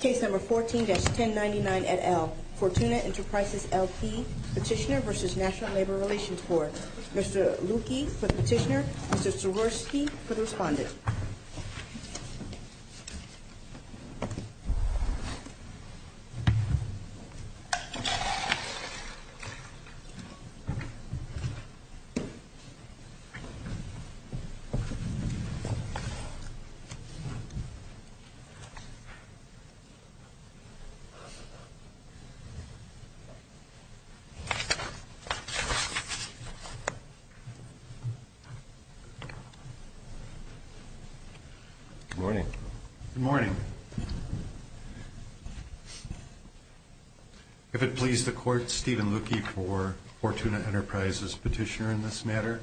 Case No. 14-1099 et al., Fortuna Enterprises, LP, Petitioner v. National Labor Relations Board. Mr. Lucchi for the petitioner, Mr. Sororski for the respondent. If it pleases the Court, Stephen Lucchi for Fortuna Enterprises Petitioner in this matter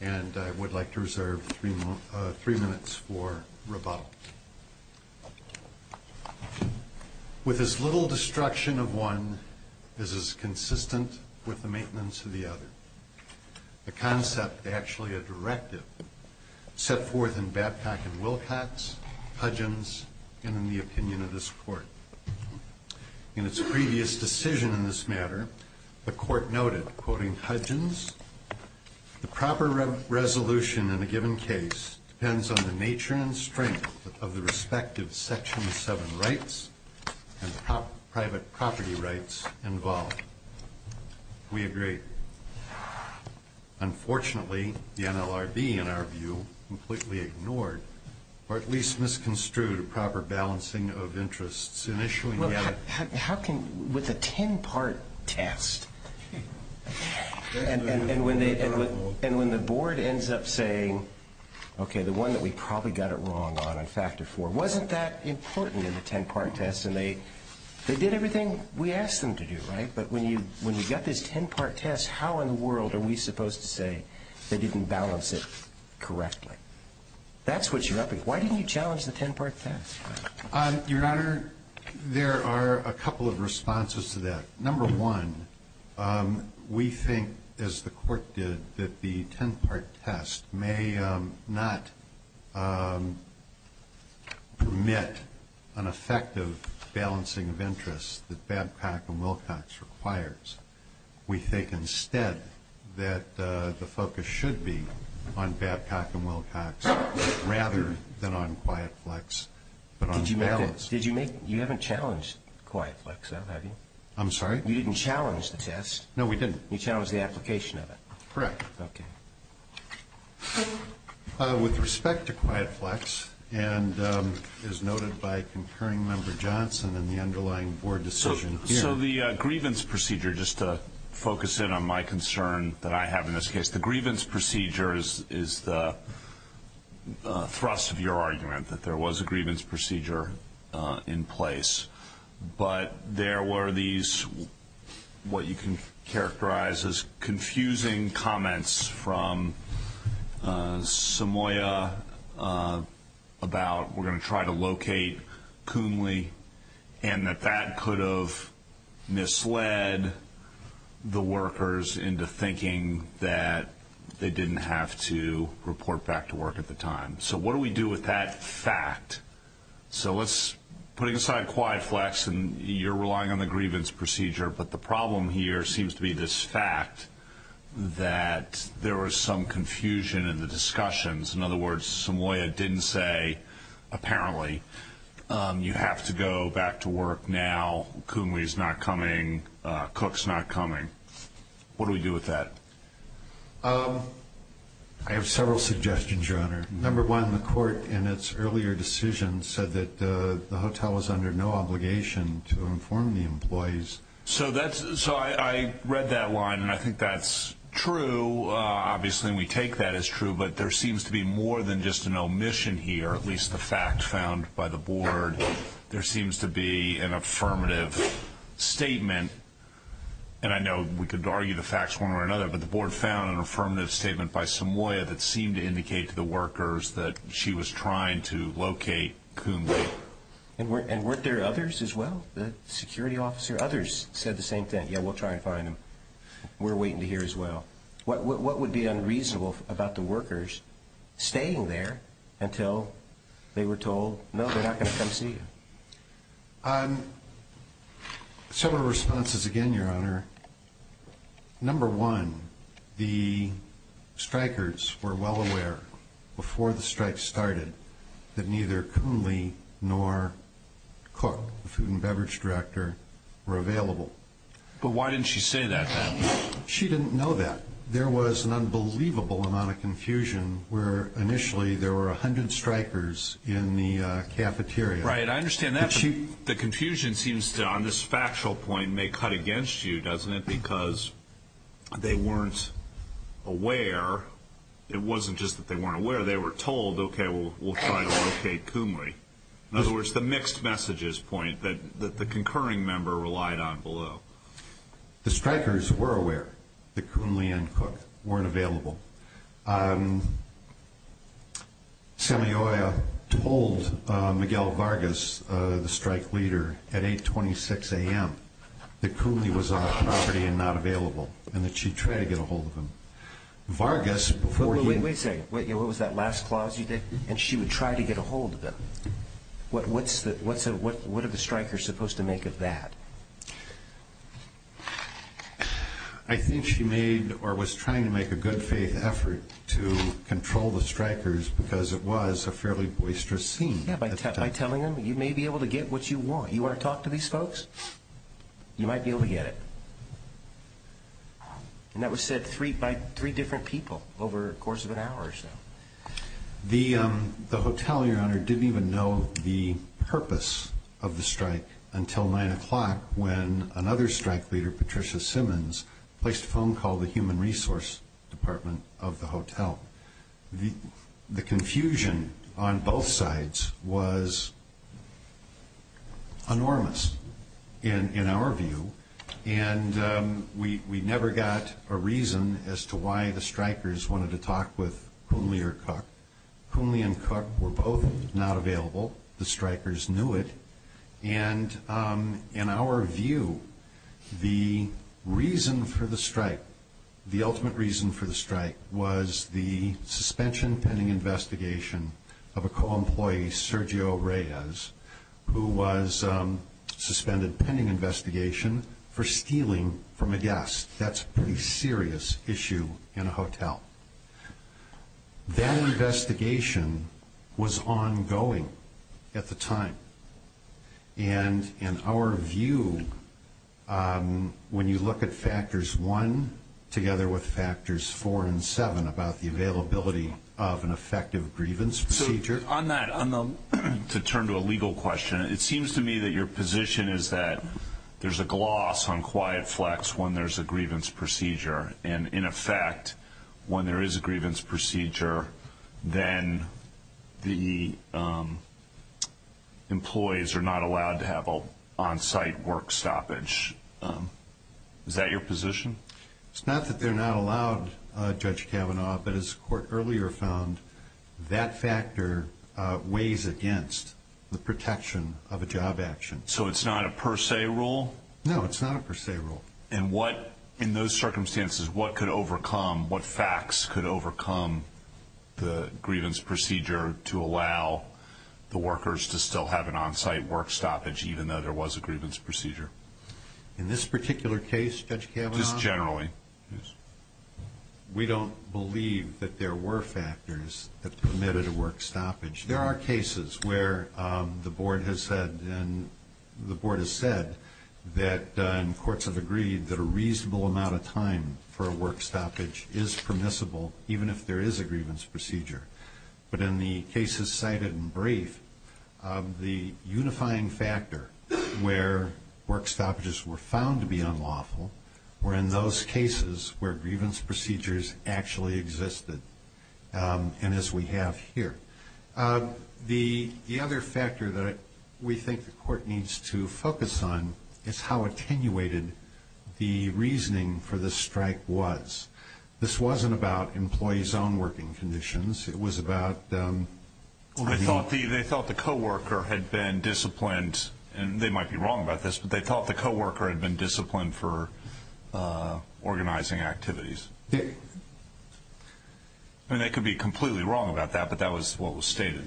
and I would like to reserve three minutes for rebuttal. With as little destruction of one as is consistent with the maintenance of the other, a concept, actually a directive, set forth in Babcock and Wilcox, Hudgens, and in the opinion of this Court. In its previous decision in this matter, the Court noted, quoting Hudgens, the proper resolution in a given case depends on the nature and strength of the respective Section VII rights and private property rights involved. We agree. Unfortunately, the NLRB, in our view, completely ignored or at least misconstrued a proper balancing of interests initially. How can, with a ten-part test, and when the Board ends up saying, okay, the one that we probably got it wrong on, on Factor IV, wasn't that important in the ten-part test and they did everything we asked them to do, right? But when you got this ten-part test, how in the world are we supposed to say they didn't balance it correctly? That's what you're up against. Why didn't you challenge the ten-part test? Your Honor, there are a couple of responses to that. Number one, we think, as the Court did, that the ten-part test may not permit an effective balancing of interests that Babcock and Wilcox requires. We think, instead, that the focus should be on Babcock and Wilcox, rather than on QuietFlex, but on balance. Did you make that? You haven't challenged QuietFlex, have you? I'm sorry? You didn't challenge the test. No, we didn't. You challenged the application of it. Correct. Okay. With respect to QuietFlex, and as noted by Concerning Member Johnson in the underlying Board decision here. So the grievance procedure, just to focus in on my concern that I have in this case. The grievance procedure is the thrust of your argument, that there was a grievance procedure in place. But there were these, what you can characterize as confusing comments from Samoya about, we're going to try to locate Coonley, and that that could have misled the workers into thinking that they didn't have to report back to work at the time. So what do we do with that fact? So let's, putting aside QuietFlex, and you're relying on the grievance procedure, but the problem here seems to be this fact that there was some confusion in the discussions. In other words, Samoya didn't say, apparently, you have to go back to work now. Coonley's not coming. Cook's not coming. What do we do with that? I have several suggestions, Your Honor. Number one, the court in its earlier decision said that the hotel was under no obligation to inform the employees. So I read that line, and I think that's true. Obviously, we take that as true, but there seems to be more than just an omission here, at least the fact found by the board. There seems to be an affirmative statement, and I know we could argue the facts one way or another, but the board found an affirmative statement by Samoya that seemed to indicate to the workers that she was trying to locate Coonley. And weren't there others as well? The security officer, others said the same thing. Yeah, we'll try and find him. We're waiting to hear as well. What would be unreasonable about the workers staying there until they were told, no, they're not going to come see you? On several responses again, Your Honor, number one, the strikers were well aware before the strike started that neither Coonley nor Cook, the food and beverage director, were available. But why didn't she say that then? She didn't know that. There was an unbelievable amount of confusion where initially there were 100 strikers in the cafeteria. Right, I understand that. The confusion seems to, on this factual point, may cut against you, doesn't it, because they weren't aware. It wasn't just that they weren't aware. They were told, okay, we'll try to locate Coonley. In other words, the mixed messages point that the concurring member relied on below. The strikers were aware that Coonley and Cook weren't available. Semioya told Miguel Vargas, the strike leader, at 8.26 a.m. that Coonley was on the property and not available and that she'd try to get a hold of him. Vargas, before he- Wait a second, what was that last clause you did? And she would try to get a hold of him. What are the strikers supposed to make of that? I think she made, or was trying to make, a good faith effort to control the strikers because it was a fairly boisterous scene. Yeah, by telling them, you may be able to get what you want. You want to talk to these folks? You might be able to get it. And that was said by three different people over the course of an hour or so. The hotel, Your Honor, didn't even know the purpose of the strike until 9 o'clock when another strike leader, Patricia Simmons, placed a phone call to the Human Resource Department of the hotel. The confusion on both sides was enormous, in our view, and we never got a reason as to why the strikers wanted to talk with Coonley or Cook. Coonley and Cook were both not available. The strikers knew it. And in our view, the reason for the strike, the ultimate reason for the strike, was the suspension pending investigation of a co-employee, Sergio Reyes, who was suspended pending investigation for stealing from a guest. That's a pretty serious issue in a hotel. That investigation was ongoing at the time. And in our view, when you look at factors one, together with factors four and seven about the availability of an effective grievance procedure. On that, to turn to a legal question, it seems to me that your position is that there's a fact, when there is a grievance procedure, then the employees are not allowed to have an on-site work stoppage. Is that your position? It's not that they're not allowed, Judge Kavanaugh, but as the court earlier found, that factor weighs against the protection of a job action. So it's not a per se rule? No, it's not a per se rule. And what, in those circumstances, what could overcome, what facts could overcome the grievance procedure to allow the workers to still have an on-site work stoppage, even though there was a grievance procedure? In this particular case, Judge Kavanaugh? Just generally, yes. We don't believe that there were factors that permitted a work stoppage. There are cases where the board has said that, and courts have agreed, that a reasonable amount of time for a work stoppage is permissible, even if there is a grievance procedure. But in the cases cited in brief, the unifying factor where work stoppages were found to be unlawful were in those cases where grievance procedures actually existed, and as we have here. The other factor that we think the court needs to focus on is how attenuated the reasoning for the strike was. This wasn't about employees' own working conditions. It was about... They thought the co-worker had been disciplined, and they might be wrong about this, but they thought the co-worker had been disciplined for organizing activities. I mean, they could be completely wrong about that, but that was what was stated.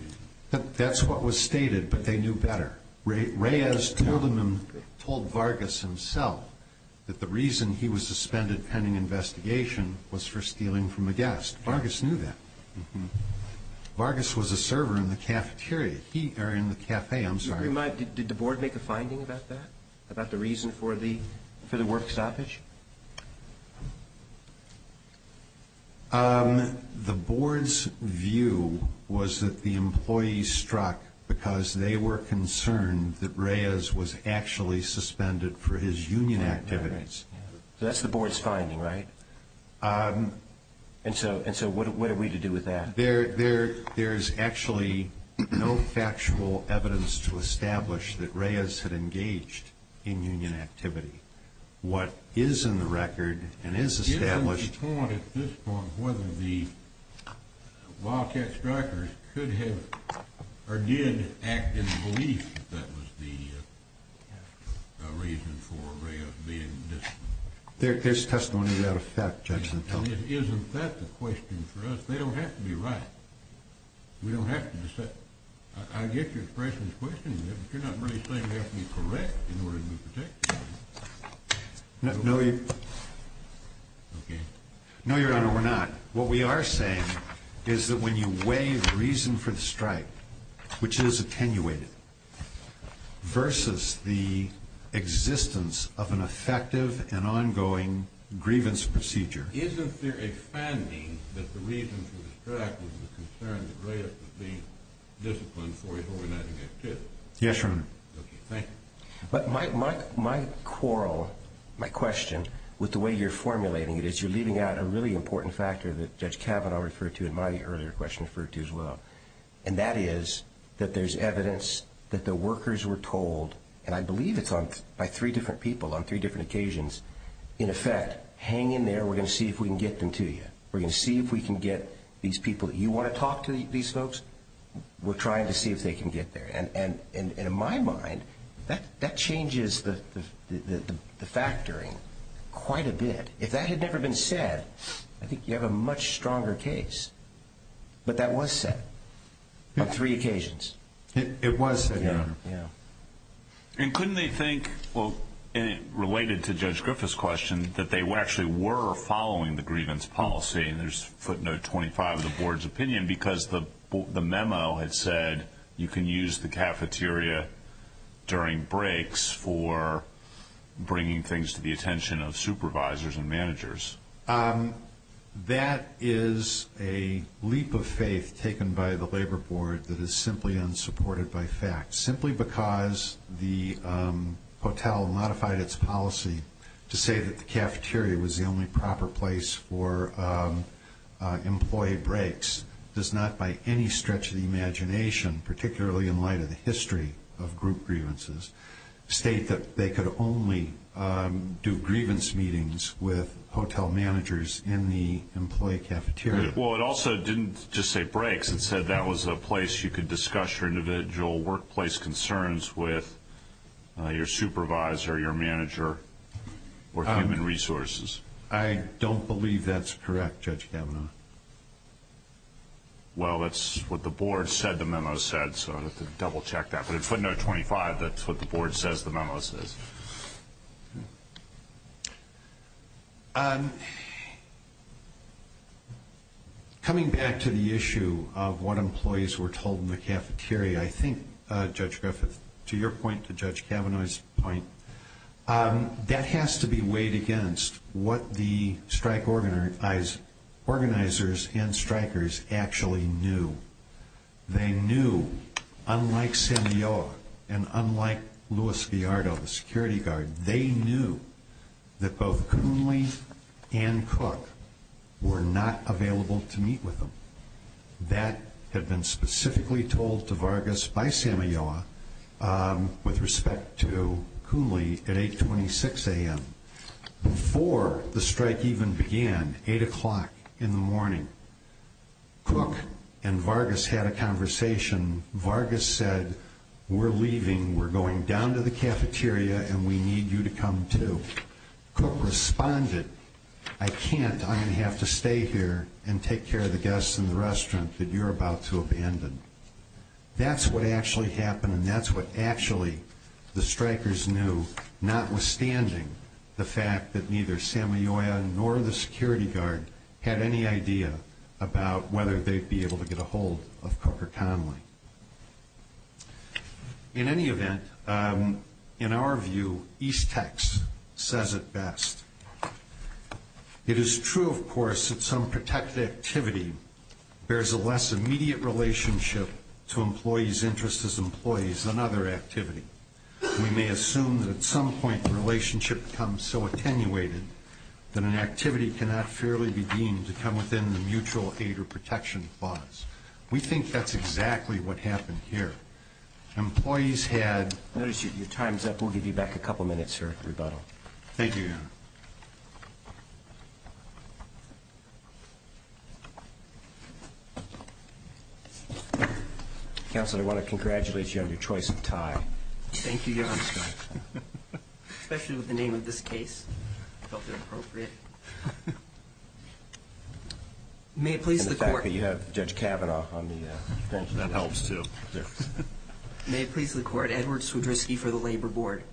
That's what was stated, but they knew better. Reyes told Vargas himself that the reason he was suspended pending investigation was for stealing from a guest. Vargas knew that. Vargas was a server in the cafeteria. He... Or in the cafe, I'm sorry. Did the board make a finding about that, about the reason for the work stoppage? The board's view was that the employees struck because they were concerned that Reyes was actually suspended for his union activities. That's the board's finding, right? And so what are we to do with that? There's actually no factual evidence to establish that Reyes had engaged in union activity. What is in the record and is established... Do you have any point at this point whether the Wildcat Strikers could have, or did, act in the belief that that was the reason for Reyes being disciplined? There's testimony to that effect, Judge Nantelli. Isn't that the question for us? They don't have to be right. We don't have to... I get your question, but you're not really saying we have to be correct in order to protect someone. No, Your Honor, we're not. What we are saying is that when you weigh the reason for the strike, which is attenuated, versus the existence of an effective and ongoing grievance procedure... Isn't there a finding that the reason for the strike was the concern that Reyes was being disciplined for his organizing activities? Yes, Your Honor. Okay, thank you. But my quarrel, my question, with the way you're formulating it is you're leaving out a really important factor that Judge Kavanaugh referred to in my earlier question referred to as well, and that is that there's evidence that the workers were told, and I believe it's by three different people on three different occasions, in effect, hang in there, we're going to see if we can get them to you. We're going to see if we can get these people that you want to talk to, these folks, we're trying to see if they can get there. And in my mind, that changes the factoring quite a bit. If that had never been said, I think you have a much stronger case. But that was said on three occasions. It was said, Your Honor. And couldn't they think, related to Judge Griffith's question, that they actually were following the grievance policy, and there's footnote 25 of the Board's opinion, because the memo had said you can use the cafeteria during breaks for bringing things to the attention of supervisors and managers. That is a leap of faith taken by the Labor Board that is simply unsupported by fact. Simply because the hotel modified its policy to say that the cafeteria was the only proper place for employee breaks does not, by any stretch of the imagination, particularly in light of the history of group grievances, state that they could only do grievance meetings with hotel managers in the employee cafeteria. Well, it also didn't just say breaks. It said that was a place you could discuss your individual workplace concerns with your supervisor, your manager, or human resources. I don't believe that's correct, Judge Kavanaugh. Well, that's what the Board said the memo said, so I'd have to double-check that. But in footnote 25, that's what the Board says the memo says. Coming back to the issue of what employees were told in the cafeteria, I think, Judge Griffith, to your point, to Judge Kavanaugh's point, that has to be weighed against what the strike organizers and strikers actually knew. They knew, unlike Samoyoa and unlike Luis Gallardo, the security guard, they knew that both Kunle and Cook were not available to meet with them. That had been specifically told to Vargas by Samoyoa with respect to Kunle at 826 a.m. Before the strike even began, 8 o'clock in the morning, Cook and Vargas had a conversation. Vargas said, we're leaving. We're going down to the cafeteria, and we need you to come, too. Cook responded, I can't. I'm going to have to stay here and take care of the guests in the restaurant that you're about to abandon. That's what actually happened, and that's what actually the strikers knew, notwithstanding the fact that neither Samoyoa nor the security guard had any idea about whether they'd be able to get a hold of Cook or Conley. In any event, in our view, East Tex says it best. It is true, of course, that some protected activity bears a less immediate relationship to employees' interest as employees than other activity. We may assume that at some point the relationship becomes so attenuated that an activity cannot fairly be deemed to come within the mutual aid or protection clause. We think that's exactly what happened here. Employees had... Notice your time's up. We'll give you back a couple minutes for rebuttal. Thank you, Your Honor. Counsel, I want to congratulate you on your choice of tie. Thank you, Your Honor. Especially with the name of this case. I felt it appropriate. May it please the Court... And the fact that you have Judge Kavanaugh on the bench. That helps, too. May it please the Court, Edward Swedriski for the Labor Board.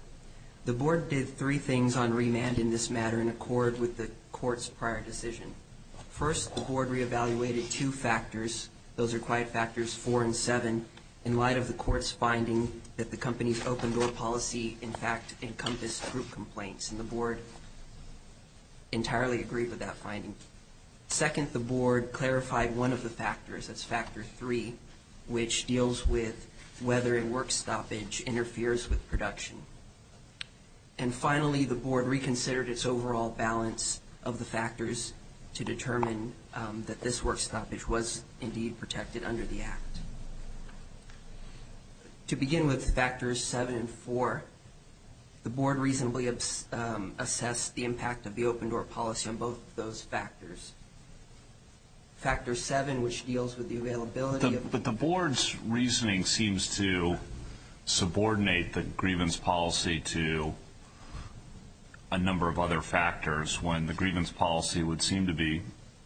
The Board did three things on remand in this matter in accord with the Court's prior decision. First, the Board re-evaluated two factors. Those are Quiet Factors 4 and 7 in light of the Court's finding that the company's open-door policy, in fact, encompassed group complaints. And the Board entirely agreed with that finding. Second, the Board clarified one of the factors, that's Factor 3, which deals with whether a work stoppage interferes with production. And finally, the Board reconsidered its overall balance of the factors to determine that this work stoppage was indeed protected under the Act. To begin with, Factors 7 and 4, the Board reasonably assessed the impact of the open-door policy on both of those factors. Factor 7, which deals with the availability of... But the Board's reasoning seems to subordinate the grievance policy to a number of other factors when the grievance policy would seem to be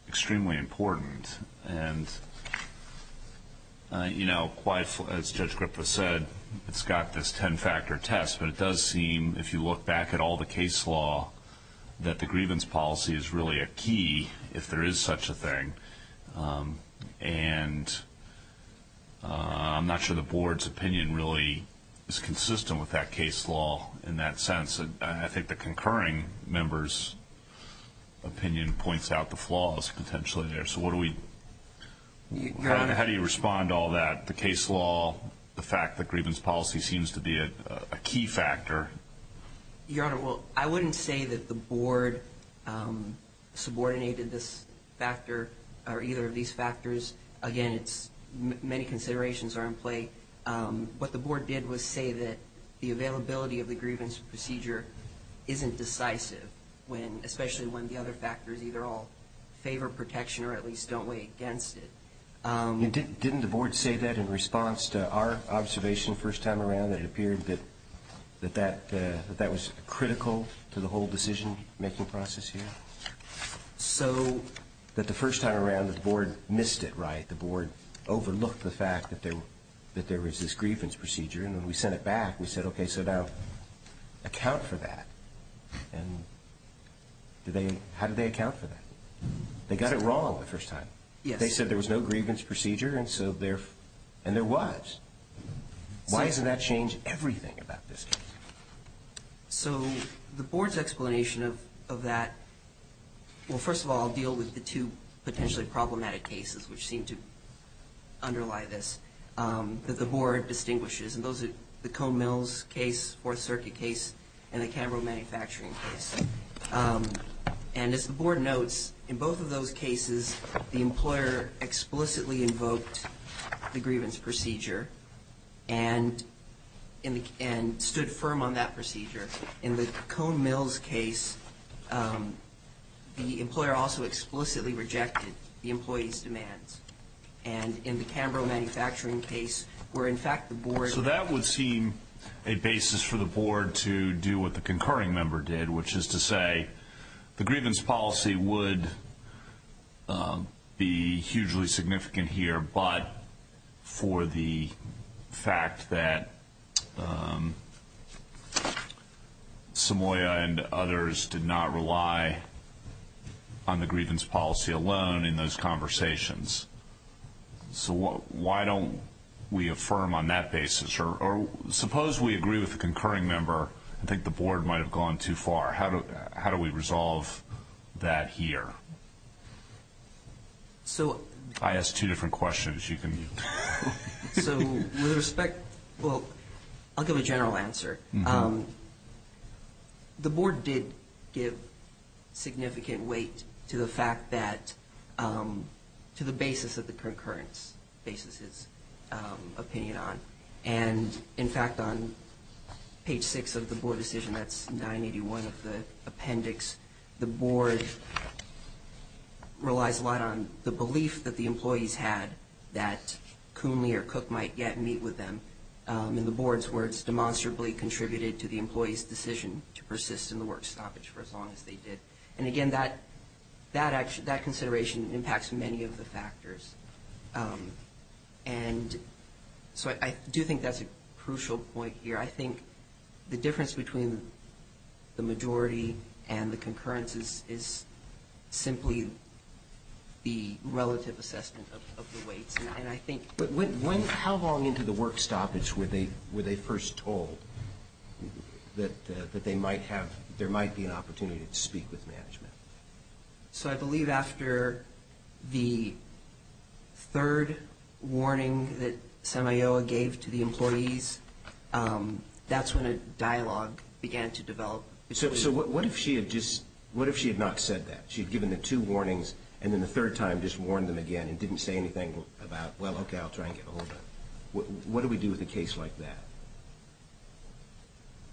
extremely important. And, you know, as Judge Griffith said, it's got this 10-factor test, but it does seem, if you look back at all the case law, that the grievance policy is really a key if there is such a thing. And I'm not sure the Board's opinion really is consistent with that case law in that sense. I think the concurring member's opinion points out the flaws potentially there. So what do we... How do you respond to all that? The case law, the fact that grievance policy seems to be a key factor. Your Honor, well, I wouldn't say that the Board subordinated this factor or either of these factors. Again, many considerations are in play. What the Board did was say that the availability of the grievance procedure isn't decisive, especially when the other factors either all favor protection or at least don't weigh against it. Didn't the Board say that in response to our observation first time around, that it appeared that that was critical to the whole decision-making process here? So... That the first time around, the Board missed it, right? The Board overlooked the fact that there was this grievance procedure. And when we sent it back, we said, okay, so now account for that. And how did they account for that? They got it wrong the first time. They said there was no grievance procedure, and so there was. Why does that change everything about this case? So the Board's explanation of that, well, first of all, I'll deal with the two potentially problematic cases which seem to underlie this that the Board distinguishes. And those are the Cone Mills case, Fourth Circuit case, and the Canberra manufacturing case. And as the Board notes, in both of those cases, the employer explicitly invoked the grievance procedure and stood firm on that procedure. In the Cone Mills case, the employer also explicitly rejected the employee's demands. And in the Canberra manufacturing case, where in fact the Board... The grievance policy would be hugely significant here, but for the fact that Samoya and others did not rely on the grievance policy alone in those conversations. So why don't we affirm on that basis? Or suppose we agree with the concurring member and think the Board might have gone too far. How do we resolve that here? I asked two different questions. So with respect... Well, I'll give a general answer. The Board did give significant weight to the fact that... bases its opinion on. And in fact, on page 6 of the Board decision, that's 981 of the appendix, the Board relies a lot on the belief that the employees had that Coonley or Cook might get and meet with them. And the Board's words demonstrably contributed to the employees' decision to persist in the work stoppage for as long as they did. And again, that consideration impacts many of the factors. And so I do think that's a crucial point here. I think the difference between the majority and the concurrence is simply the relative assessment of the weights. But how long into the work stoppage were they first told that there might be an opportunity to speak with management? So I believe after the third warning that SEMAOA gave to the employees, that's when a dialogue began to develop. So what if she had not said that? What if she had given the two warnings and then the third time just warned them again and didn't say anything about, well, okay, I'll try and get ahold of them? What do we do with a case like that?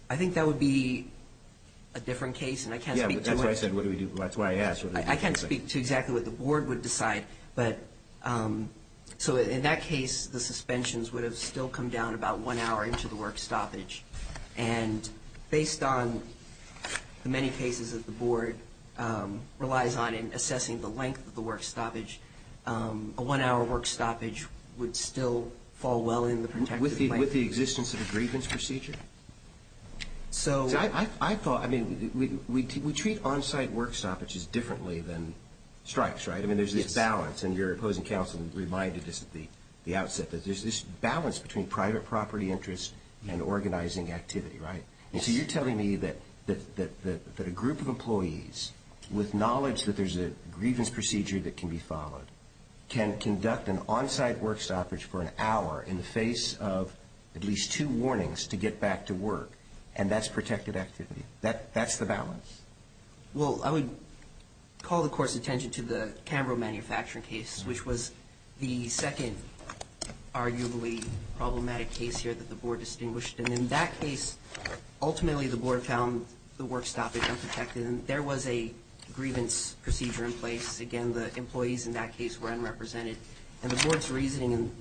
I think that would be a different case, and I can't speak to it. Yeah, that's why I asked. I can't speak to exactly what the Board would decide. But so in that case, the suspensions would have still come down about one hour into the work stoppage. And based on the many cases that the Board relies on in assessing the length of the work stoppage, a one-hour work stoppage would still fall well into the protected length. With the existence of a grievance procedure? So I thought, I mean, we treat on-site work stoppages differently than strikes, right? I mean, there's this balance. And your opposing counsel reminded us at the outset that there's this balance between private property interest and organizing activity, right? And so you're telling me that a group of employees, with knowledge that there's a grievance procedure that can be followed, can conduct an on-site work stoppage for an hour in the face of at least two warnings to get back to work, and that's protected activity? That's the balance? Well, I would call, of course, attention to the Cambro manufacturing case, which was the second arguably problematic case here that the Board distinguished. And in that case, ultimately the Board found the work stoppage unprotected, and there was a grievance procedure in place. Again, the employees in that case were unrepresented. And the Board's reasoning,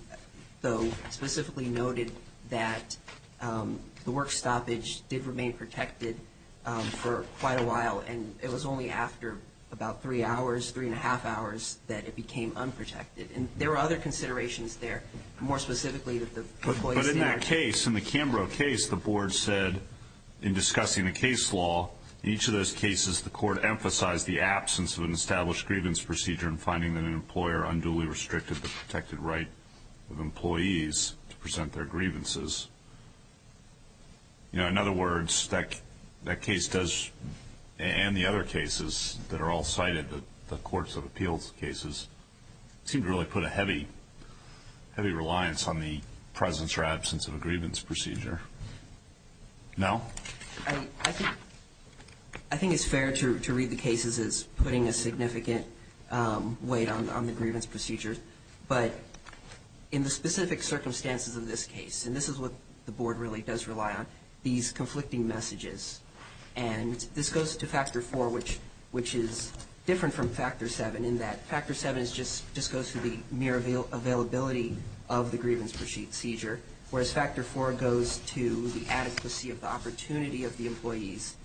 though, specifically noted that the work stoppage did remain protected for quite a while, and it was only after about three hours, three-and-a-half hours, that it became unprotected. And there were other considerations there, more specifically that the employees didn't. But in that case, in the Cambro case, the Board said in discussing the case law, in each of those cases the Court emphasized the absence of an established grievance procedure in finding that an employer unduly restricted the protected right of employees to present their grievances. In other words, that case does, and the other cases that are all cited, the Courts of Appeals cases, seem to really put a heavy reliance on the presence or absence of a grievance procedure. No? I think it's fair to read the cases as putting a significant weight on the grievance procedures. But in the specific circumstances of this case, and this is what the Board really does rely on, these conflicting messages. And this goes to Factor 4, which is different from Factor 7 in that Factor 7 just goes to the mere availability of the grievance procedure, whereas Factor 4 goes to the adequacy of the opportunity of the employees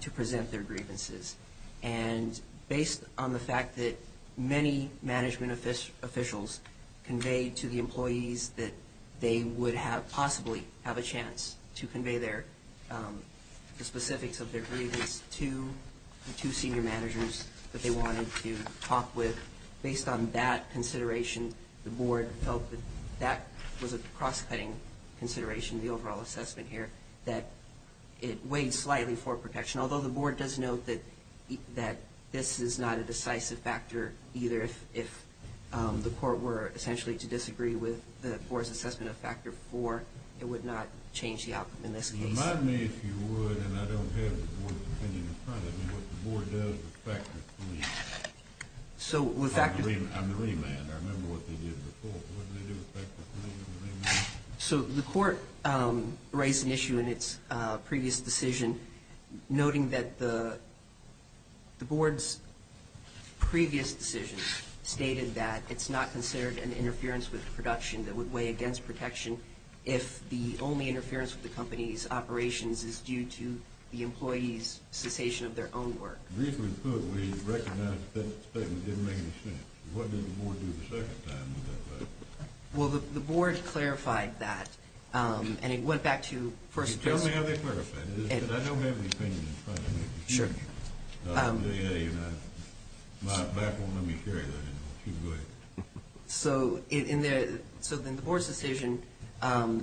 to present their grievances. And based on the fact that many management officials conveyed to the employees that they would possibly have a chance to convey the specifics of their grievance to the two senior managers that they wanted to talk with, based on that consideration, the Board felt that that was a cross-cutting consideration, the overall assessment here, that it weighed slightly for protection. Although the Board does note that this is not a decisive factor either, if the Court were essentially to disagree with the Board's assessment of Factor 4, it would not change the outcome in this case. Remind me if you would, and I don't have the Board's opinion in front of me, what the Board does with Factor 3 on the remand. I remember what they did before. What did they do with Factor 3 on the remand? So the Court raised an issue in its previous decision, noting that the Board's previous decision stated that it's not considered an interference with production that would weigh against protection if the only interference with the company's operations is due to the employees' cessation of their own work. Briefly put, we recognize that statement didn't make any sense. What did the Board do the second time with that? Well, the Board clarified that, and it went back to first- Tell me how they clarified it, because I don't have the opinion in front of me. Sure. My back won't let me carry that anymore. So in the Board's decision,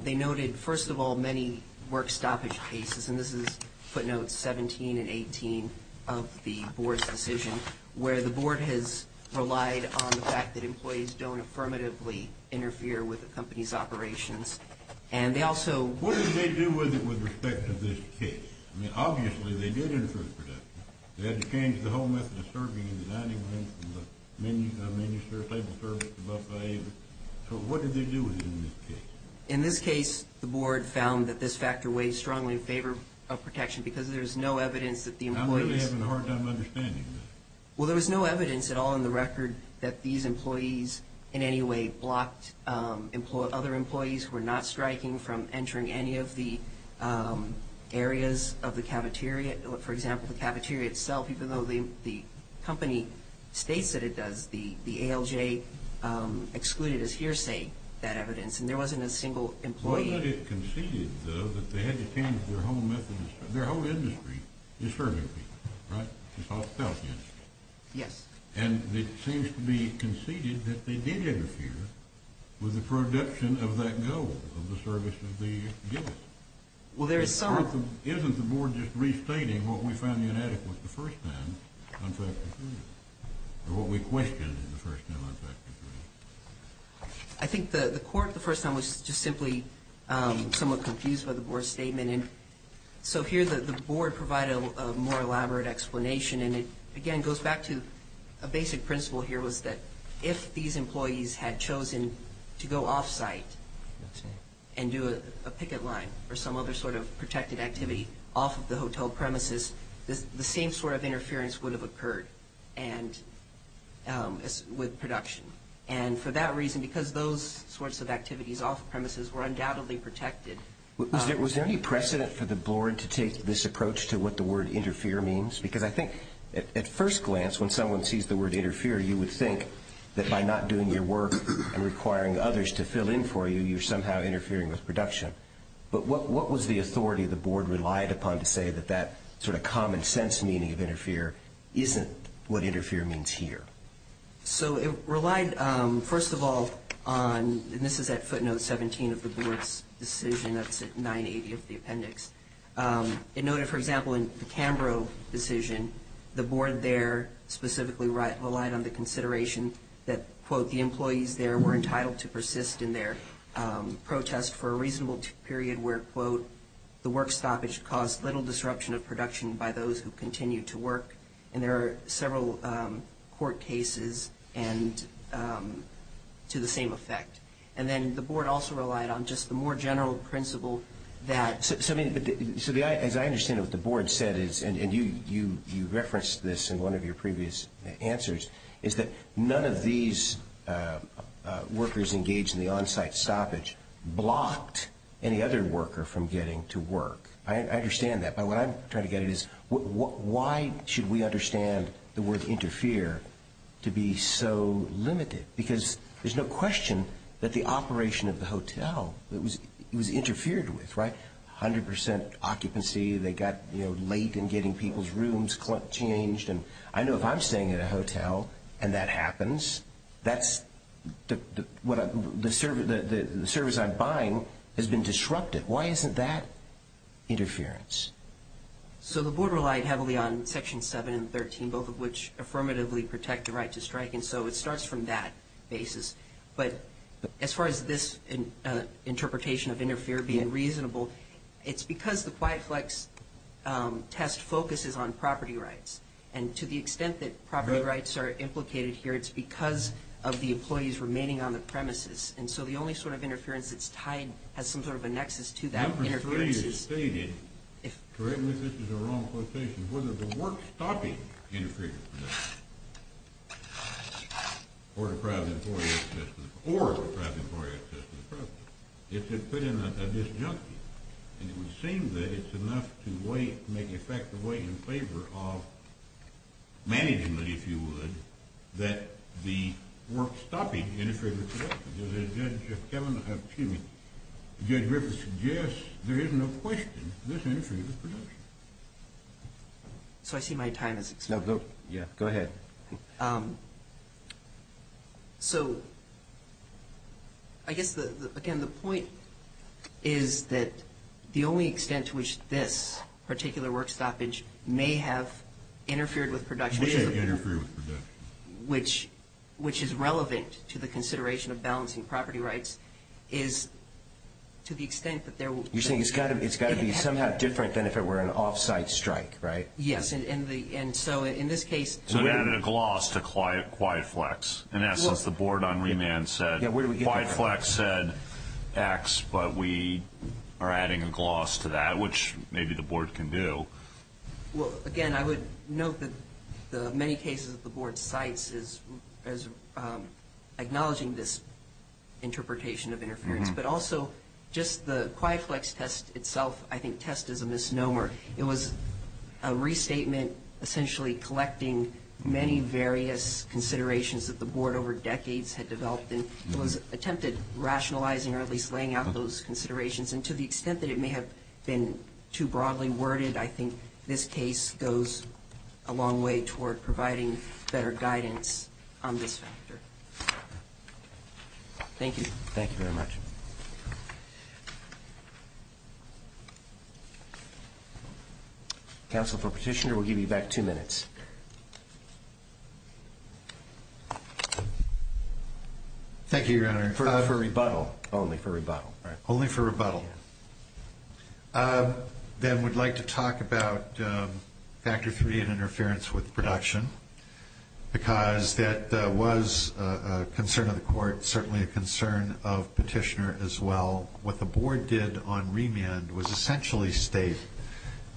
they noted, first of all, many work stoppage cases, and this is footnotes 17 and 18 of the Board's decision, where the Board has relied on the fact that employees don't affirmatively interfere with the company's operations. And they also- What did they do with it with respect to this case? I mean, obviously, they did interfere with production. They had to change the whole method of serving in the dining room from the menu service, table service, to buffet. So what did they do with it in this case? In this case, the Board found that this factor weighs strongly in favor of protection, because there's no evidence that the employees- I'm really having a hard time understanding this. Well, there was no evidence at all in the record that these employees in any way blocked other employees who were not striking from entering any of the areas of the cafeteria. For example, the cafeteria itself, even though the company states that it does, the ALJ excluded as hearsay that evidence, and there wasn't a single employee- Their whole industry is serving people, right? It's hospitality industry. Yes. And it seems to be conceded that they did interfere with the production of that goal of the service of the guest. Well, there is some- Isn't the Board just restating what we found inadequate the first time on factor three, or what we questioned the first time on factor three? I think the Court the first time was just simply somewhat confused by the Board's statement. And so here the Board provided a more elaborate explanation, and it again goes back to a basic principle here was that if these employees had chosen to go off-site and do a picket line or some other sort of protected activity off of the hotel premises, the same sort of interference would have occurred with production. And for that reason, because those sorts of activities off-premises were undoubtedly protected- Was there any precedent for the Board to take this approach to what the word interfere means? Because I think at first glance when someone sees the word interfere, you would think that by not doing your work and requiring others to fill in for you, you're somehow interfering with production. But what was the authority the Board relied upon to say that that sort of common-sense meaning of interfere isn't what interfere means here? So it relied, first of all, on- and this is at footnote 17 of the Board's decision. That's at 980 of the appendix. It noted, for example, in the Canberra decision, the Board there specifically relied on the consideration that, quote, the employees there were entitled to persist in their protest for a reasonable period where, quote, the work stoppage caused little disruption of production by those who continued to work. And there are several court cases to the same effect. And then the Board also relied on just the more general principle that- So, I mean, as I understand it, what the Board said is, and you referenced this in one of your previous answers, is that none of these workers engaged in the on-site stoppage blocked any other worker from getting to work. I understand that. What I'm trying to get at is why should we understand the word interfere to be so limited? Because there's no question that the operation of the hotel, it was interfered with, right? A hundred percent occupancy. They got late in getting people's rooms changed. And I know if I'm staying at a hotel and that happens, the service I'm buying has been disrupted. Why isn't that interference? So the Board relied heavily on Section 7 and 13, both of which affirmatively protect the right to strike. And so it starts from that basis. But as far as this interpretation of interfere being reasonable, it's because the QuietFlex test focuses on property rights. And to the extent that property rights are implicated here, it's because of the employees remaining on the premises. And so the only sort of interference that's tied has some sort of a nexus to that interference. Number three is stated, correct me if this is a wrong quotation, whether the work-stopping interference, or deprived employee access to the property, if it put in a disjunctive, and it would seem that it's enough to make effective way in favor of management, if you would, that the work-stopping interfered with production. If Kevin, excuse me, Judge Griffiths suggests there is no question this interfered with production. So I see my time has expired. Yeah, go ahead. So I guess, again, the point is that the only extent to which this particular work-stoppage may have interfered with production. Which is relevant to the consideration of balancing property rights is to the extent that there will be. You're saying it's got to be somehow different than if it were an off-site strike, right? Yes, and so in this case. So it added a gloss to QuietFlex. In essence, the board on remand said, QuietFlex said X, but we are adding a gloss to that, which maybe the board can do. Well, again, I would note that the many cases that the board cites as acknowledging this interpretation of interference. But also, just the QuietFlex test itself, I think test is a misnomer. It was a restatement essentially collecting many various considerations that the board over decades had developed. It was attempted rationalizing or at least laying out those considerations. And to the extent that it may have been too broadly worded, I think this case goes a long way toward providing better guidance on this factor. Thank you. Thank you very much. Counsel for Petitioner, we'll give you back two minutes. Thank you, Your Honor. For rebuttal, only for rebuttal. Only for rebuttal. Then we'd like to talk about factor three, interference with production. Because that was a concern of the court, certainly a concern of Petitioner as well. What the board did on remand was essentially state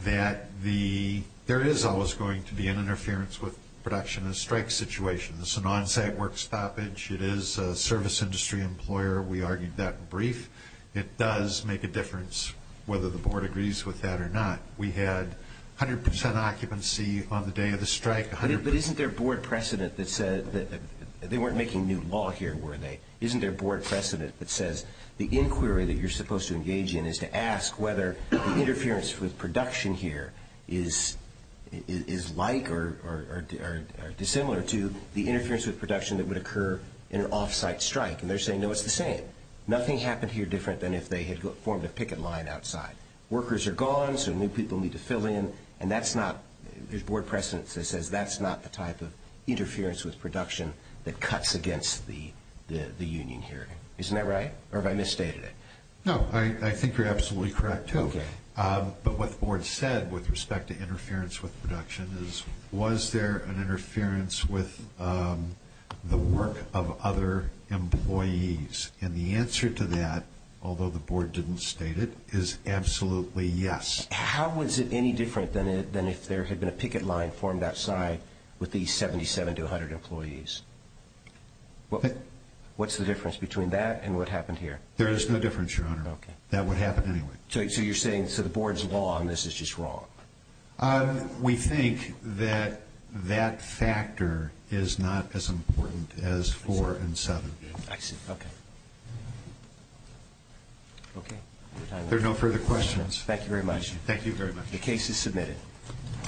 that there is always going to be an interference with production, a strike situation. It's a non-site work stoppage. It is a service industry employer. We argued that brief. It does make a difference whether the board agrees with that or not. We had 100% occupancy on the day of the strike. But isn't there board precedent that said that they weren't making new law here, were they? Isn't there board precedent that says the inquiry that you're supposed to engage in is to ask whether the interference with production here is like or dissimilar to the interference with production that would occur in an off-site strike. And they're saying, no, it's the same. Nothing happened here different than if they had formed a picket line outside. Workers are gone, so new people need to fill in. And that's not, there's board precedent that says that's not the type of interference with production that cuts against the union hearing. Isn't that right? Or have I misstated it? No, I think you're absolutely correct, too. But what the board said with respect to interference with production is, was there an interference with the work of other employees? And the answer to that, although the board didn't state it, is absolutely yes. How was it any different than if there had been a picket line formed outside with these 77 to 100 employees? What's the difference between that and what happened here? There is no difference, Your Honor. That would happen anyway. So you're saying, so the board's law on this is just wrong? We think that that factor is not as important as four and seven. I see. Okay. There are no further questions. Thank you very much. Thank you very much. The case is submitted.